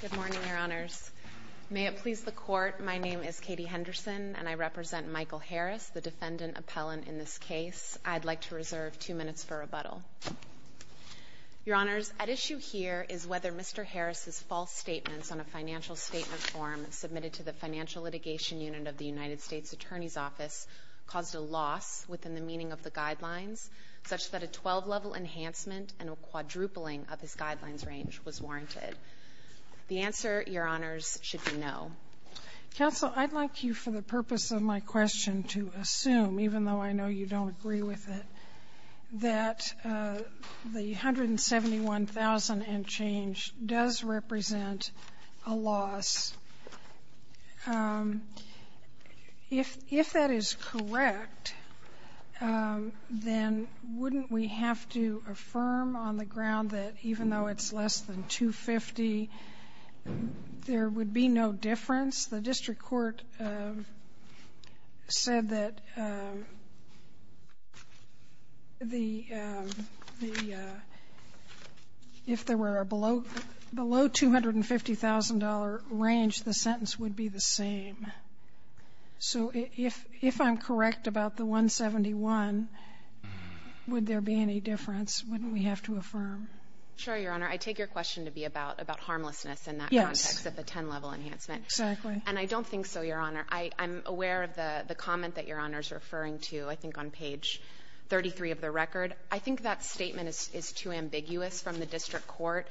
Good morning, Your Honors. May it please the Court, my name is Katie Henderson, and I represent Michael Harris, the defendant appellant in this case. I'd like to reserve two minutes for rebuttal. Your Honors, at issue here is whether Mr. Harris's false statements on a financial statement form submitted to the Financial Litigation Unit of the United States Attorney's Office caused a loss within the meaning of the guidelines, such that a 12-level enhancement and a quadrupling of his guidelines range was warranted. The answer, Your Honors, should be no. Sotomayor, I'd like you, for the purpose of my question, to assume, even though I know you don't agree with it, that the $171,000 and change does represent a loss. If that is correct, then wouldn't we have to affirm on the ground that even though it's less than $250,000, there would be no difference? The district court said that the – if there were a below $250,000 range, the sentence would be the same. So if – if I'm correct about the $171,000, would there be any difference? Wouldn't we have to affirm? Sure, Your Honor. I take your question to be about – about harmlessness in that context. Yes. At the 10-level enhancement. Exactly. And I don't think so, Your Honor. I'm aware of the comment that Your Honor is referring to, I think on page 33 of the record. I think that statement is too ambiguous from the district court.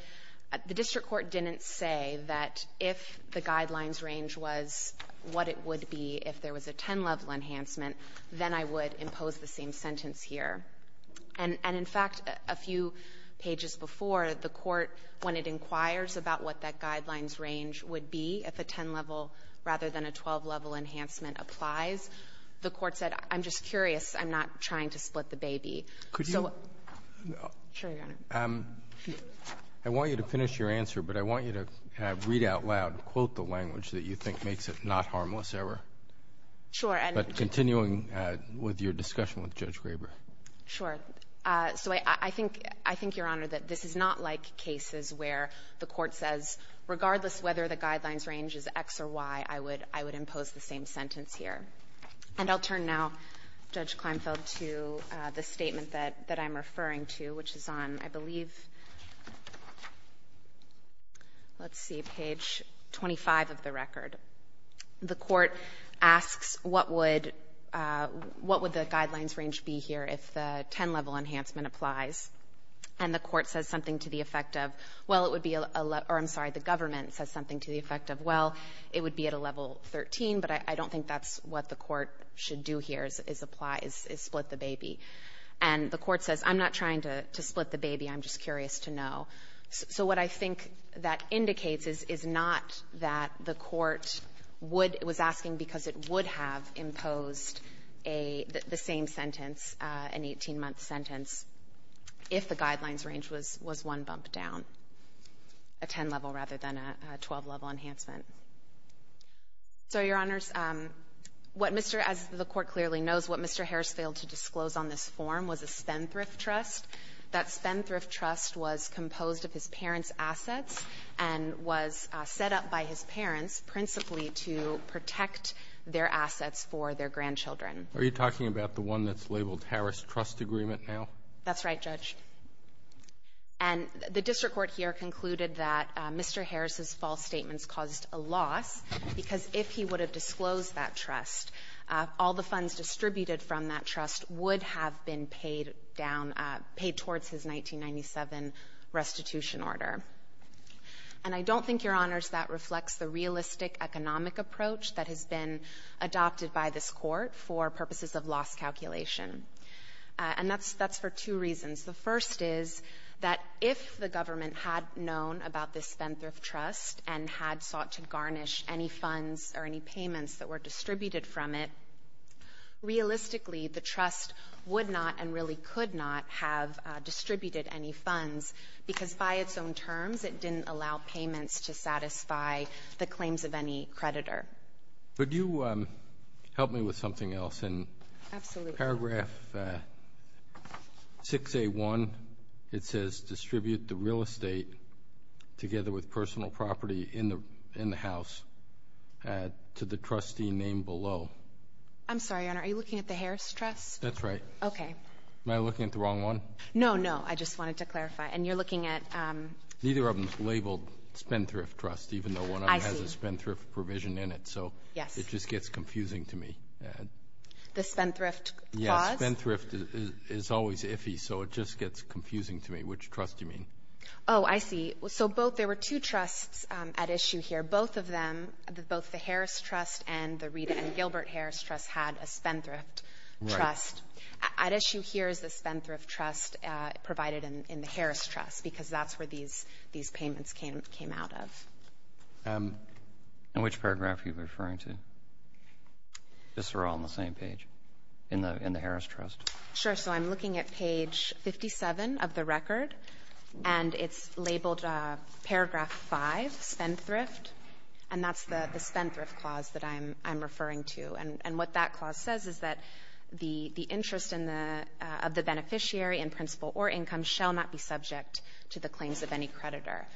The district court didn't say that if the guidelines range was what it would be if there was a 10-level enhancement, then I would impose the same sentence here. And in fact, a few pages before, the court, when it inquires about what that guidelines range would be if a 10-level rather than a 12-level enhancement applies, the court said, I'm just curious, I'm not trying to split the baby. So – Could you – Sure, Your Honor. I want you to finish your answer, but I want you to read out loud, quote the language that you think makes it not harmless error. Sure. But continuing with your discussion with Judge Graber. Sure. So I think – I think, Your Honor, that this is not like cases where the court says regardless whether the guidelines range is X or Y, I would – I would impose the same sentence here. And I'll turn now, Judge Kleinfeld, to the statement that I'm referring to, which is on, I believe, let's see, page 25 of the record. The court asks what would – what would the guidelines range be here if the 10-level enhancement applies. And the court says something to the effect of, well, it would be – or I'm sorry, the government says something to the effect of, well, it would be at a level 13, but I don't think that's what the court should do here is apply – is And the court says, I'm not trying to split the baby. I'm just curious to know. So what I think that indicates is, is not that the court would – was asking because it would have imposed a – the same sentence, an 18-month sentence, if the guidelines range was – was one bump down, a 10-level rather than a 12-level enhancement. So, Your Honors, what Mr. – as the court clearly knows, what Mr. Harris failed to disclose on this form was a Spendthrift Trust. That Spendthrift Trust was composed of his parents' assets and was set up by his parents principally to protect their assets for their grandchildren. Are you talking about the one that's labeled Harris Trust Agreement now? That's right, Judge. And the district court here concluded that Mr. Harris's false statements caused a loss because if he would have disclosed that trust, all the funds distributed from that trust would have been paid down – paid towards his 1997 restitution order. And I don't think, Your Honors, that reflects the realistic economic approach that has been adopted by this Court for purposes of loss calculation. And that's – that's for two reasons. The first is that if the government had known about this Spendthrift Trust and had sought to garnish any funds or any payments that were distributed from it, it would – realistically, the trust would not and really could not have distributed any funds because by its own terms, it didn't allow payments to satisfy the claims of any creditor. Would you help me with something else? Absolutely. In paragraph 6A1, it says, Distribute the real estate together with personal property in the – in the house to the trustee named below. I'm sorry, Your Honor. Are you looking at the Harris Trust? That's right. Okay. Am I looking at the wrong one? No, no. I just wanted to clarify. And you're looking at – Neither of them is labeled Spendthrift Trust, even though one of them has a Spendthrift provision in it. I see. So it just gets confusing to me. The Spendthrift clause? Yes. Spendthrift is always iffy, so it just gets confusing to me. Which trust do you mean? And the Rita and Gilbert Harris Trust had a Spendthrift Trust. Right. At issue here is the Spendthrift Trust provided in the Harris Trust because that's where these – these payments came – came out of. And which paragraph are you referring to? These are all on the same page in the – in the Harris Trust. Sure. So I'm looking at page 57 of the record, and it's labeled paragraph 5, Spendthrift. And that's the Spendthrift clause that I'm – I'm referring to. And what that clause says is that the – the interest in the – of the beneficiary in principle or income shall not be subject to the claims of any creditor.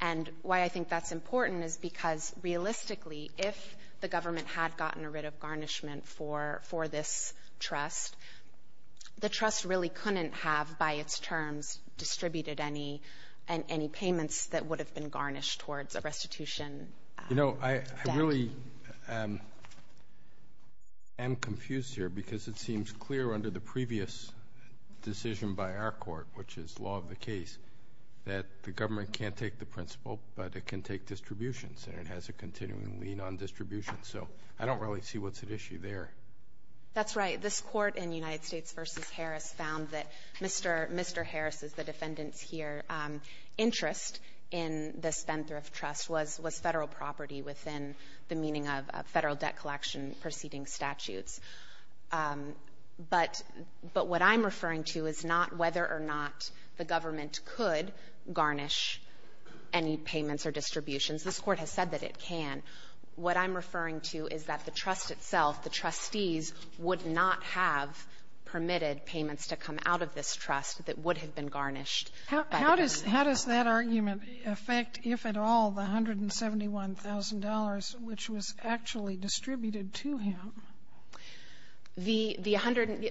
And why I think that's important is because, realistically, if the government had gotten rid of garnishment for – for this trust, the trust really couldn't have, by its terms, distributed any – any payments that would have been garnished towards a restitution debt. You know, I – I really am confused here because it seems clear under the previous decision by our court, which is law of the case, that the government can't take the principle, but it can take distributions. And it has a continuing lean on distribution. So I don't really see what's at issue there. That's right. This court in United States v. Harris found that Mr. – Mr. Harris is the defendant's interest in the Spendthrift trust was – was Federal property within the meaning of Federal debt collection proceeding statutes. But – but what I'm referring to is not whether or not the government could garnish any payments or distributions. This Court has said that it can. What I'm referring to is that the trust itself, the trustees, would not have permitted payments to come out of this trust that would have been garnished. How does – how does that argument affect, if at all, the $171,000 which was actually distributed to him? The – the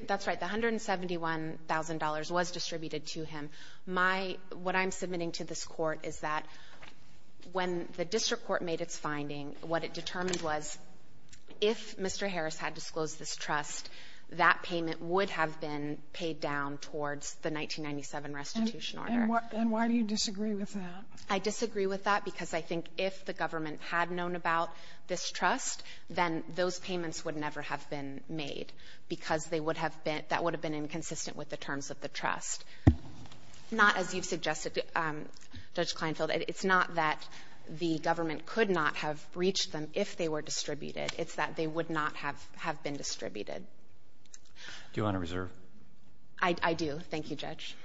– that's right. The $171,000 was distributed to him. My – what I'm submitting to this Court is that when the district court made its finding, what it determined was if Mr. Harris had disclosed this trust, that payment would have been paid down towards the 1997 restitution order. And why do you disagree with that? I disagree with that because I think if the government had known about this trust, then those payments would never have been made because they would have been – that would have been inconsistent with the terms of the trust. Not as you've suggested, Judge Kleinfeld. It's not that the government could not have breached them if they were distributed. It's that they would not have – have been distributed. Do you want to reserve? I – I do. Thank you, Judge.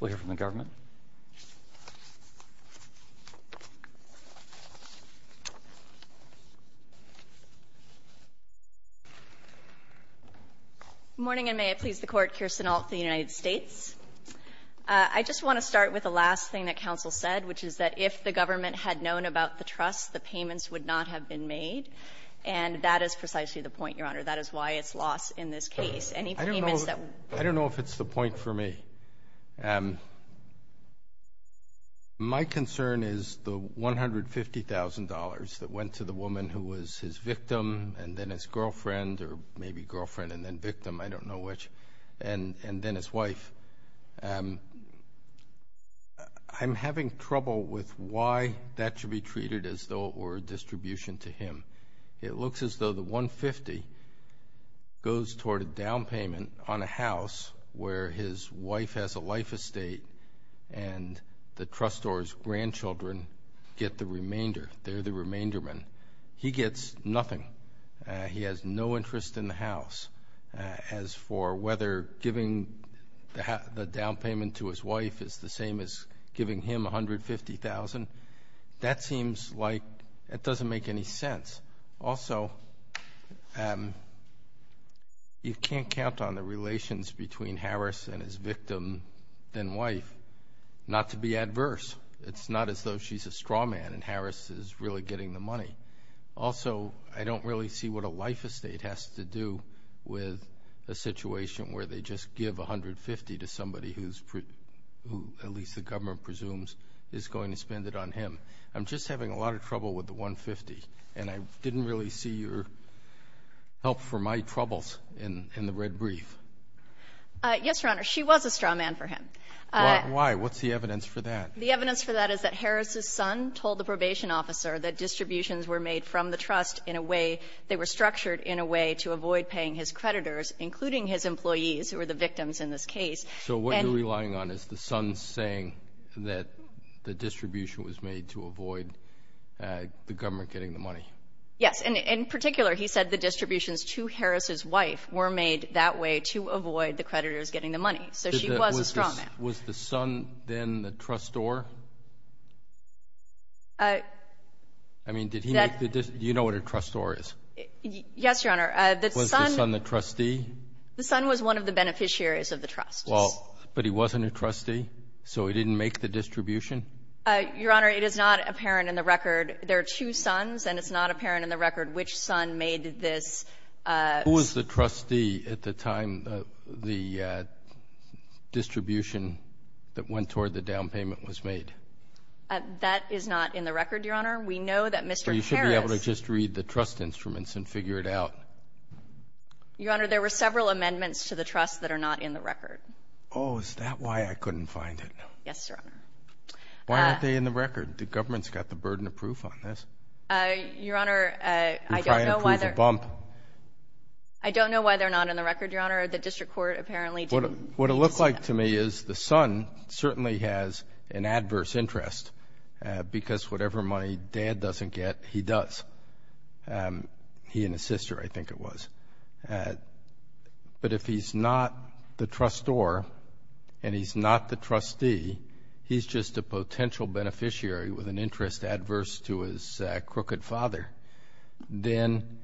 We'll hear from the government. Good morning, and may it please the Court. Kirsten Ault with the United States. I just want to start with the last thing that counsel said, which is that if the government had known about the trust, the payments would not have been made. And that is precisely the point, Your Honor. That is why it's lost in this case. I don't know – I don't know if it's the point for me. My concern is the $150,000 that went to the woman who was his victim and then his girlfriend or maybe girlfriend and then victim, I don't know which, and then his wife. I'm having trouble with why that should be treated as though it were a distribution to him. It looks as though the $150,000 goes toward a down payment on a house where his wife has a life estate and the trustor's grandchildren get the remainder. They're the remainder men. He gets nothing. He has no interest in the house. As for whether giving the down payment to his wife is the same as giving him $150,000, that seems like – it doesn't make any sense. Also you can't count on the relations between Harris and his victim and wife not to be adverse. It's not as though she's a straw man and Harris is really getting the money. Also, I don't really see what a life estate has to do with a situation where they just give $150,000 to somebody who's – who at least the government presumes is going to spend it on him. I'm just having a lot of trouble with the $150,000 and I didn't really see your help for my troubles in the red brief. Yes, Your Honor. She was a straw man for him. Why? What's the evidence for that? The evidence for that is that Harris's son told the probation officer that distributions were made from the trust in a way – they were structured in a way to avoid paying his creditors, including his employees who were the victims in this case. So what you're relying on is the son saying that the distribution was made to avoid the government getting the money. Yes. And in particular, he said the distributions to Harris's wife were made that way to avoid the creditors getting the money. So she was a straw man. Was the son then the trustor? I mean, did he make the – do you know what a trustor is? Yes, Your Honor. Was the son the trustee? The son was one of the beneficiaries of the trust. Well, but he wasn't a trustee, so he didn't make the distribution? Your Honor, it is not apparent in the record. There are two sons, and it's not apparent in the record which son made this. Who was the trustee at the time the distribution that went toward the down payment was made? That is not in the record, Your Honor. We know that Mr. Harris – So you should be able to just read the trust instruments and figure it out. Your Honor, there were several amendments to the trust that are not in the record. Oh, is that why I couldn't find it? Yes, Your Honor. Why aren't they in the record? The government's got the burden of proof on this. Your Honor, I don't know why they're – I don't know why they're not in the record, Your Honor. The district court apparently didn't – What it looked like to me is the son certainly has an adverse interest, because whatever money dad doesn't get, he does. He and his sister, I think it was. But if he's not the trustor and he's not the trustee, he's just a potential beneficiary with an interest adverse to his crooked father, then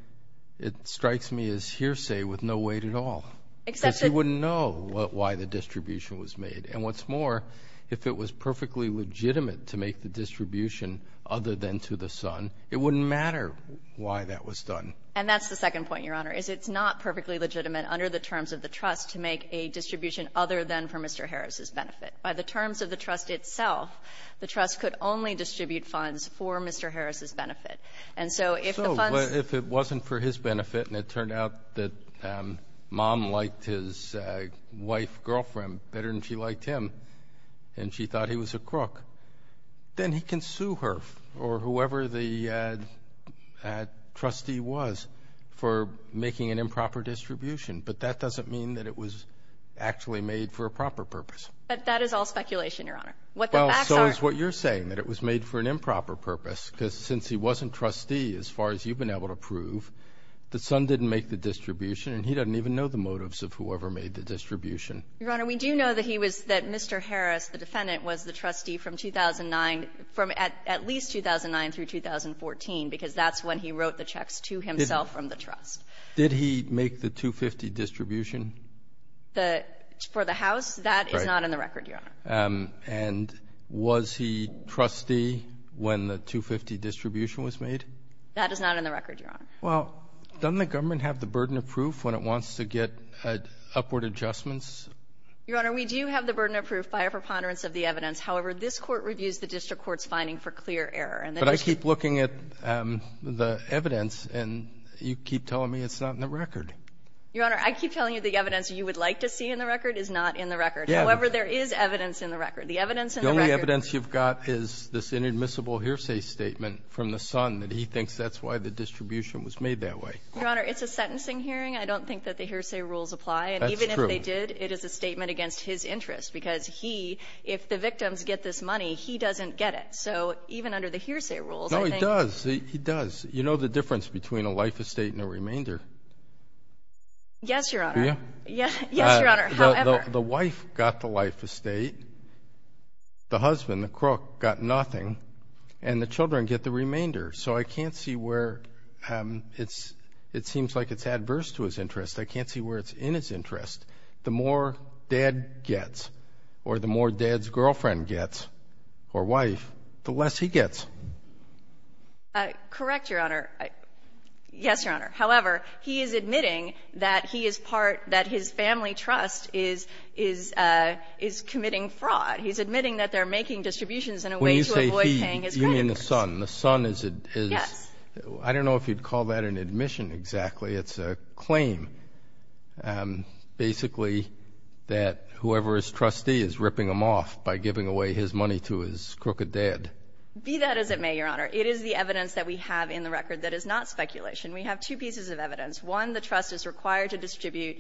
it strikes me as hearsay with no weight at all. Except that – Because he wouldn't know why the distribution was made. And what's more, if it was perfectly legitimate to make the distribution other than to the son, it wouldn't matter why that was done. And that's the second point, Your Honor, is it's not perfectly legitimate under the terms of the trust to make a distribution other than for Mr. Harris's benefit. By the terms of the trust itself, the trust could only distribute funds for Mr. Harris's benefit. And so if the funds – So if it wasn't for his benefit and it turned out that mom liked his wife, girlfriend, better than she liked him, and she thought he was a crook, then he can sue her or whoever the trustee was for making an improper distribution. But that doesn't mean that it was actually made for a proper purpose. But that is all speculation, Your Honor. What the facts are – Well, so is what you're saying, that it was made for an improper purpose, because since he wasn't trustee, as far as you've been able to prove, the son didn't make the distribution, and he doesn't even know the motives of whoever made the distribution. Your Honor, we do know that he was – that Mr. Harris, the defendant, was the trustee from 2009 – from at least 2009 through 2014, because that's when he wrote the checks to himself from the trust. Did he make the 250 distribution? The – for the house, that is not in the record, Your Honor. And was he trustee when the 250 distribution was made? That is not in the record, Your Honor. Well, doesn't the government have the burden of proof when it wants to get upward adjustments? Your Honor, we do have the burden of proof by a preponderance of the evidence. However, this Court reviews the district court's finding for clear error. But I keep looking at the evidence, and you keep telling me it's not in the record. Your Honor, I keep telling you the evidence you would like to see in the record is not in the record. However, there is evidence in the record. The evidence in the record – The only evidence you've got is this inadmissible hearsay statement from the son that he thinks that's why the distribution was made that way. Your Honor, it's a sentencing hearing. I don't think that the hearsay rules apply. That's true. And even if they did, it is a statement against his interest, because he – if the victims get this money, he doesn't get it. So even under the hearsay rules, I think – No, he does. He does. You know the difference between a life estate and a remainder. Yes, Your Honor. Do you? Yes, Your Honor. However – The wife got the life estate, the husband, the crook, got nothing, and the children get the remainder. So I can't see where it's – it seems like it's adverse to his interest. I can't see where it's in his interest. The more dad gets, or the more dad's girlfriend gets, or wife, the less he gets. Correct, Your Honor. Yes, Your Honor. However, he is admitting that he is part – that his family trust is committing fraud. He's admitting that they're making distributions in a way to avoid paying his credit first. When you say he, you mean the son. The son is a – is – Yes. I don't know if you'd call that an admission exactly. It's a claim, basically, that whoever is trustee is ripping him off by giving away his money to his crooked dad. Be that as it may, Your Honor, it is the evidence that we have in the record that is not speculation. We have two pieces of evidence. One, the trust is required to distribute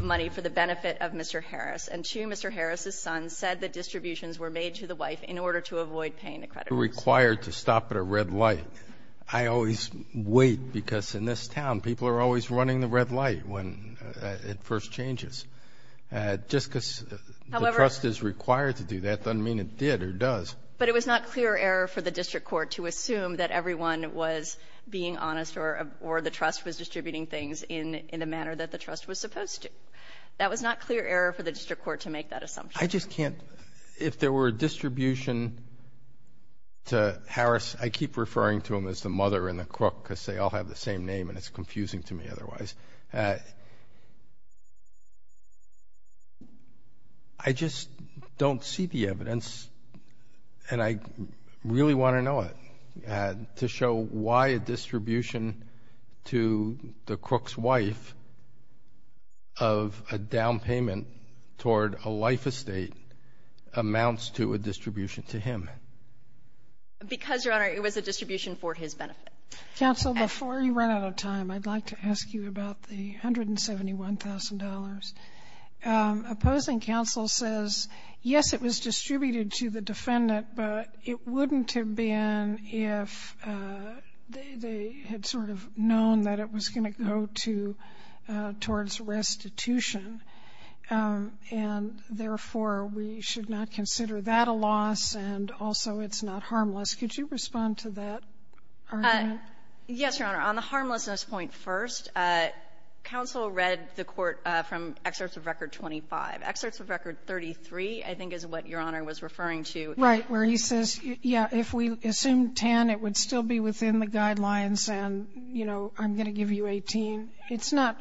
money for the benefit of Mr. Harris. And two, Mr. Harris' son said the distributions were made to the wife in order to avoid paying the creditors. You're required to stop at a red light. I always wait, because in this town, people are always running the red light when it first changes. Just because the trust is required to do that doesn't mean it did or does. But it was not clear error for the district court to assume that everyone was being honest or the trust was distributing things in the manner that the trust was supposed to. That was not clear error for the district court to make that assumption. I just can't – if there were a distribution to Harris – I keep referring to him as the mother and the crook, because they all have the same name, and it's confusing to me otherwise. I just don't see the evidence, and I really want to know it, to show why a distribution to the crook's wife of a down payment toward a life estate amounts to a distribution to him. Because, Your Honor, it was a distribution for his benefit. Counsel, before you run out of time, I'd like to ask you about the $171,000. Opposing counsel says, yes, it was distributed to the defendant, but it wouldn't have been if they had sort of known that it was going to go to – towards restitution. And, therefore, we should not consider that a loss, and also it's not harmless. Could you respond to that, Your Honor? Yes, Your Honor. On the harmlessness point first, counsel read the court from excerpts of Record 25. Excerpts of Record 33, I think, is what Your Honor was referring to. Right. Where he says, yeah, if we assume 10, it would still be within the guidelines, and, you know, I'm going to give you 18. It's not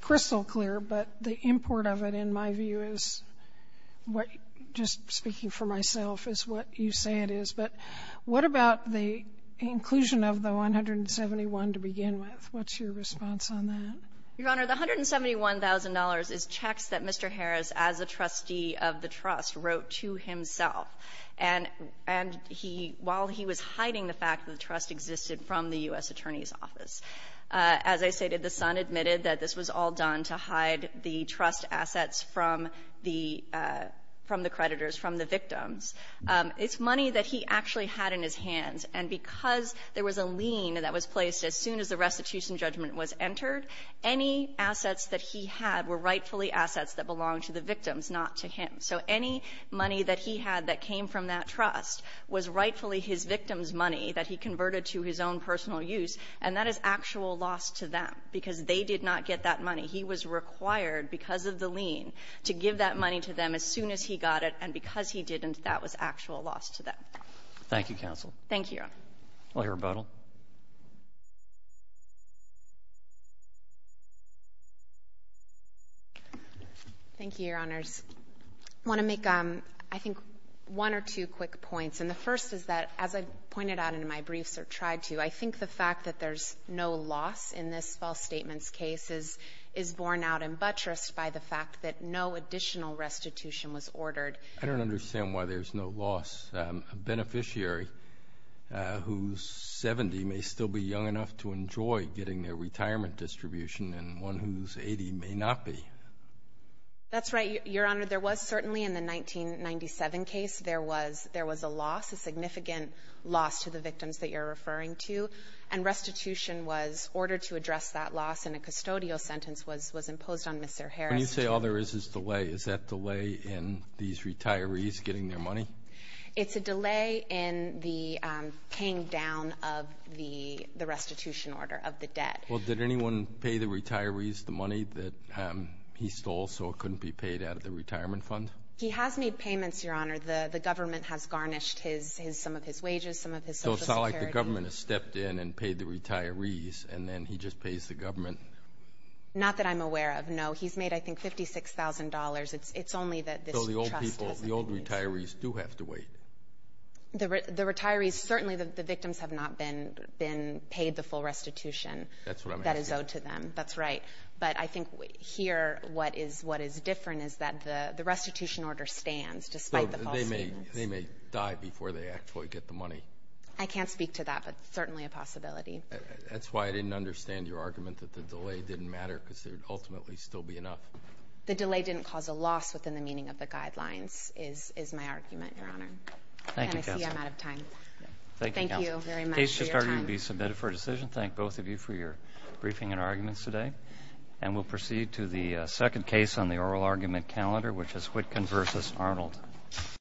crystal clear, but the import of it, in my view, is what, just speaking for myself, is what you say it is. But what about the inclusion of the $171,000 to begin with? What's your response on that? Your Honor, the $171,000 is checks that Mr. Harris, as a trustee of the trust, wrote to himself, and he – while he was hiding the fact that the trust existed from the U.S. Attorney's Office. As I stated, the son admitted that this was all done to hide the trust assets from the – from the creditors, from the victims. It's money that he actually had in his hands. And because there was a lien that was placed as soon as the restitution judgment was entered, any assets that he had were rightfully assets that belonged to the victims, not to him. So any money that he had that came from that trust was rightfully his victim's money that he converted to his own personal use, and that is actual loss to them because they did not get that money. He was required, because of the lien, to give that money to them as soon as he got it, and because he didn't, that was actual loss to them. Thank you, counsel. Thank you, Your Honor. I'll hear rebuttal. Thank you, Your Honors. I want to make, I think, one or two quick points. And the first is that, as I pointed out in my briefs or tried to, I think the fact that there's no loss in this false statements case is borne out in buttress by the fact that no additional restitution was ordered. I don't understand why there's no loss. A beneficiary who's 70 may still be young enough to enjoy getting their retirement distribution, and one who's 80 may not be. That's right, Your Honor. There was certainly in the 1997 case, there was a loss, a significant loss to the victims that you're referring to, and restitution was ordered to address that loss in a custodial sentence was imposed on Mr. Harris. When you say all there is is delay, is that delay in these retirees getting their money? It's a delay in the paying down of the restitution order, of the debt. Well, did anyone pay the retirees the money that he stole so it couldn't be paid out of the retirement fund? He has made payments, Your Honor. The government has garnished some of his wages, some of his Social Security. So it's not like the government has stepped in and paid the retirees, and then he just pays the government? Not that I'm aware of, no. He's made, I think, $56,000. It's only that this trust hasn't been used. So the old people, the old retirees do have to wait. The retirees, certainly the victims have not been paid the full restitution. That's what I'm asking. That is owed to them. That's right. But I think here what is different is that the restitution order stands, despite the false statements. They may die before they actually get the money. I can't speak to that, but it's certainly a possibility. That's why I didn't understand your argument that the delay didn't matter, because there would ultimately still be enough. The delay didn't cause a loss within the meaning of the guidelines, is my argument, Your Honor. And I see I'm out of time. Thank you very much for your time. The case has already been submitted for a decision. Thank both of you for your briefing and arguments today. And we'll proceed to the second case on the oral argument calendar, which is Whitcomb v. Arnold.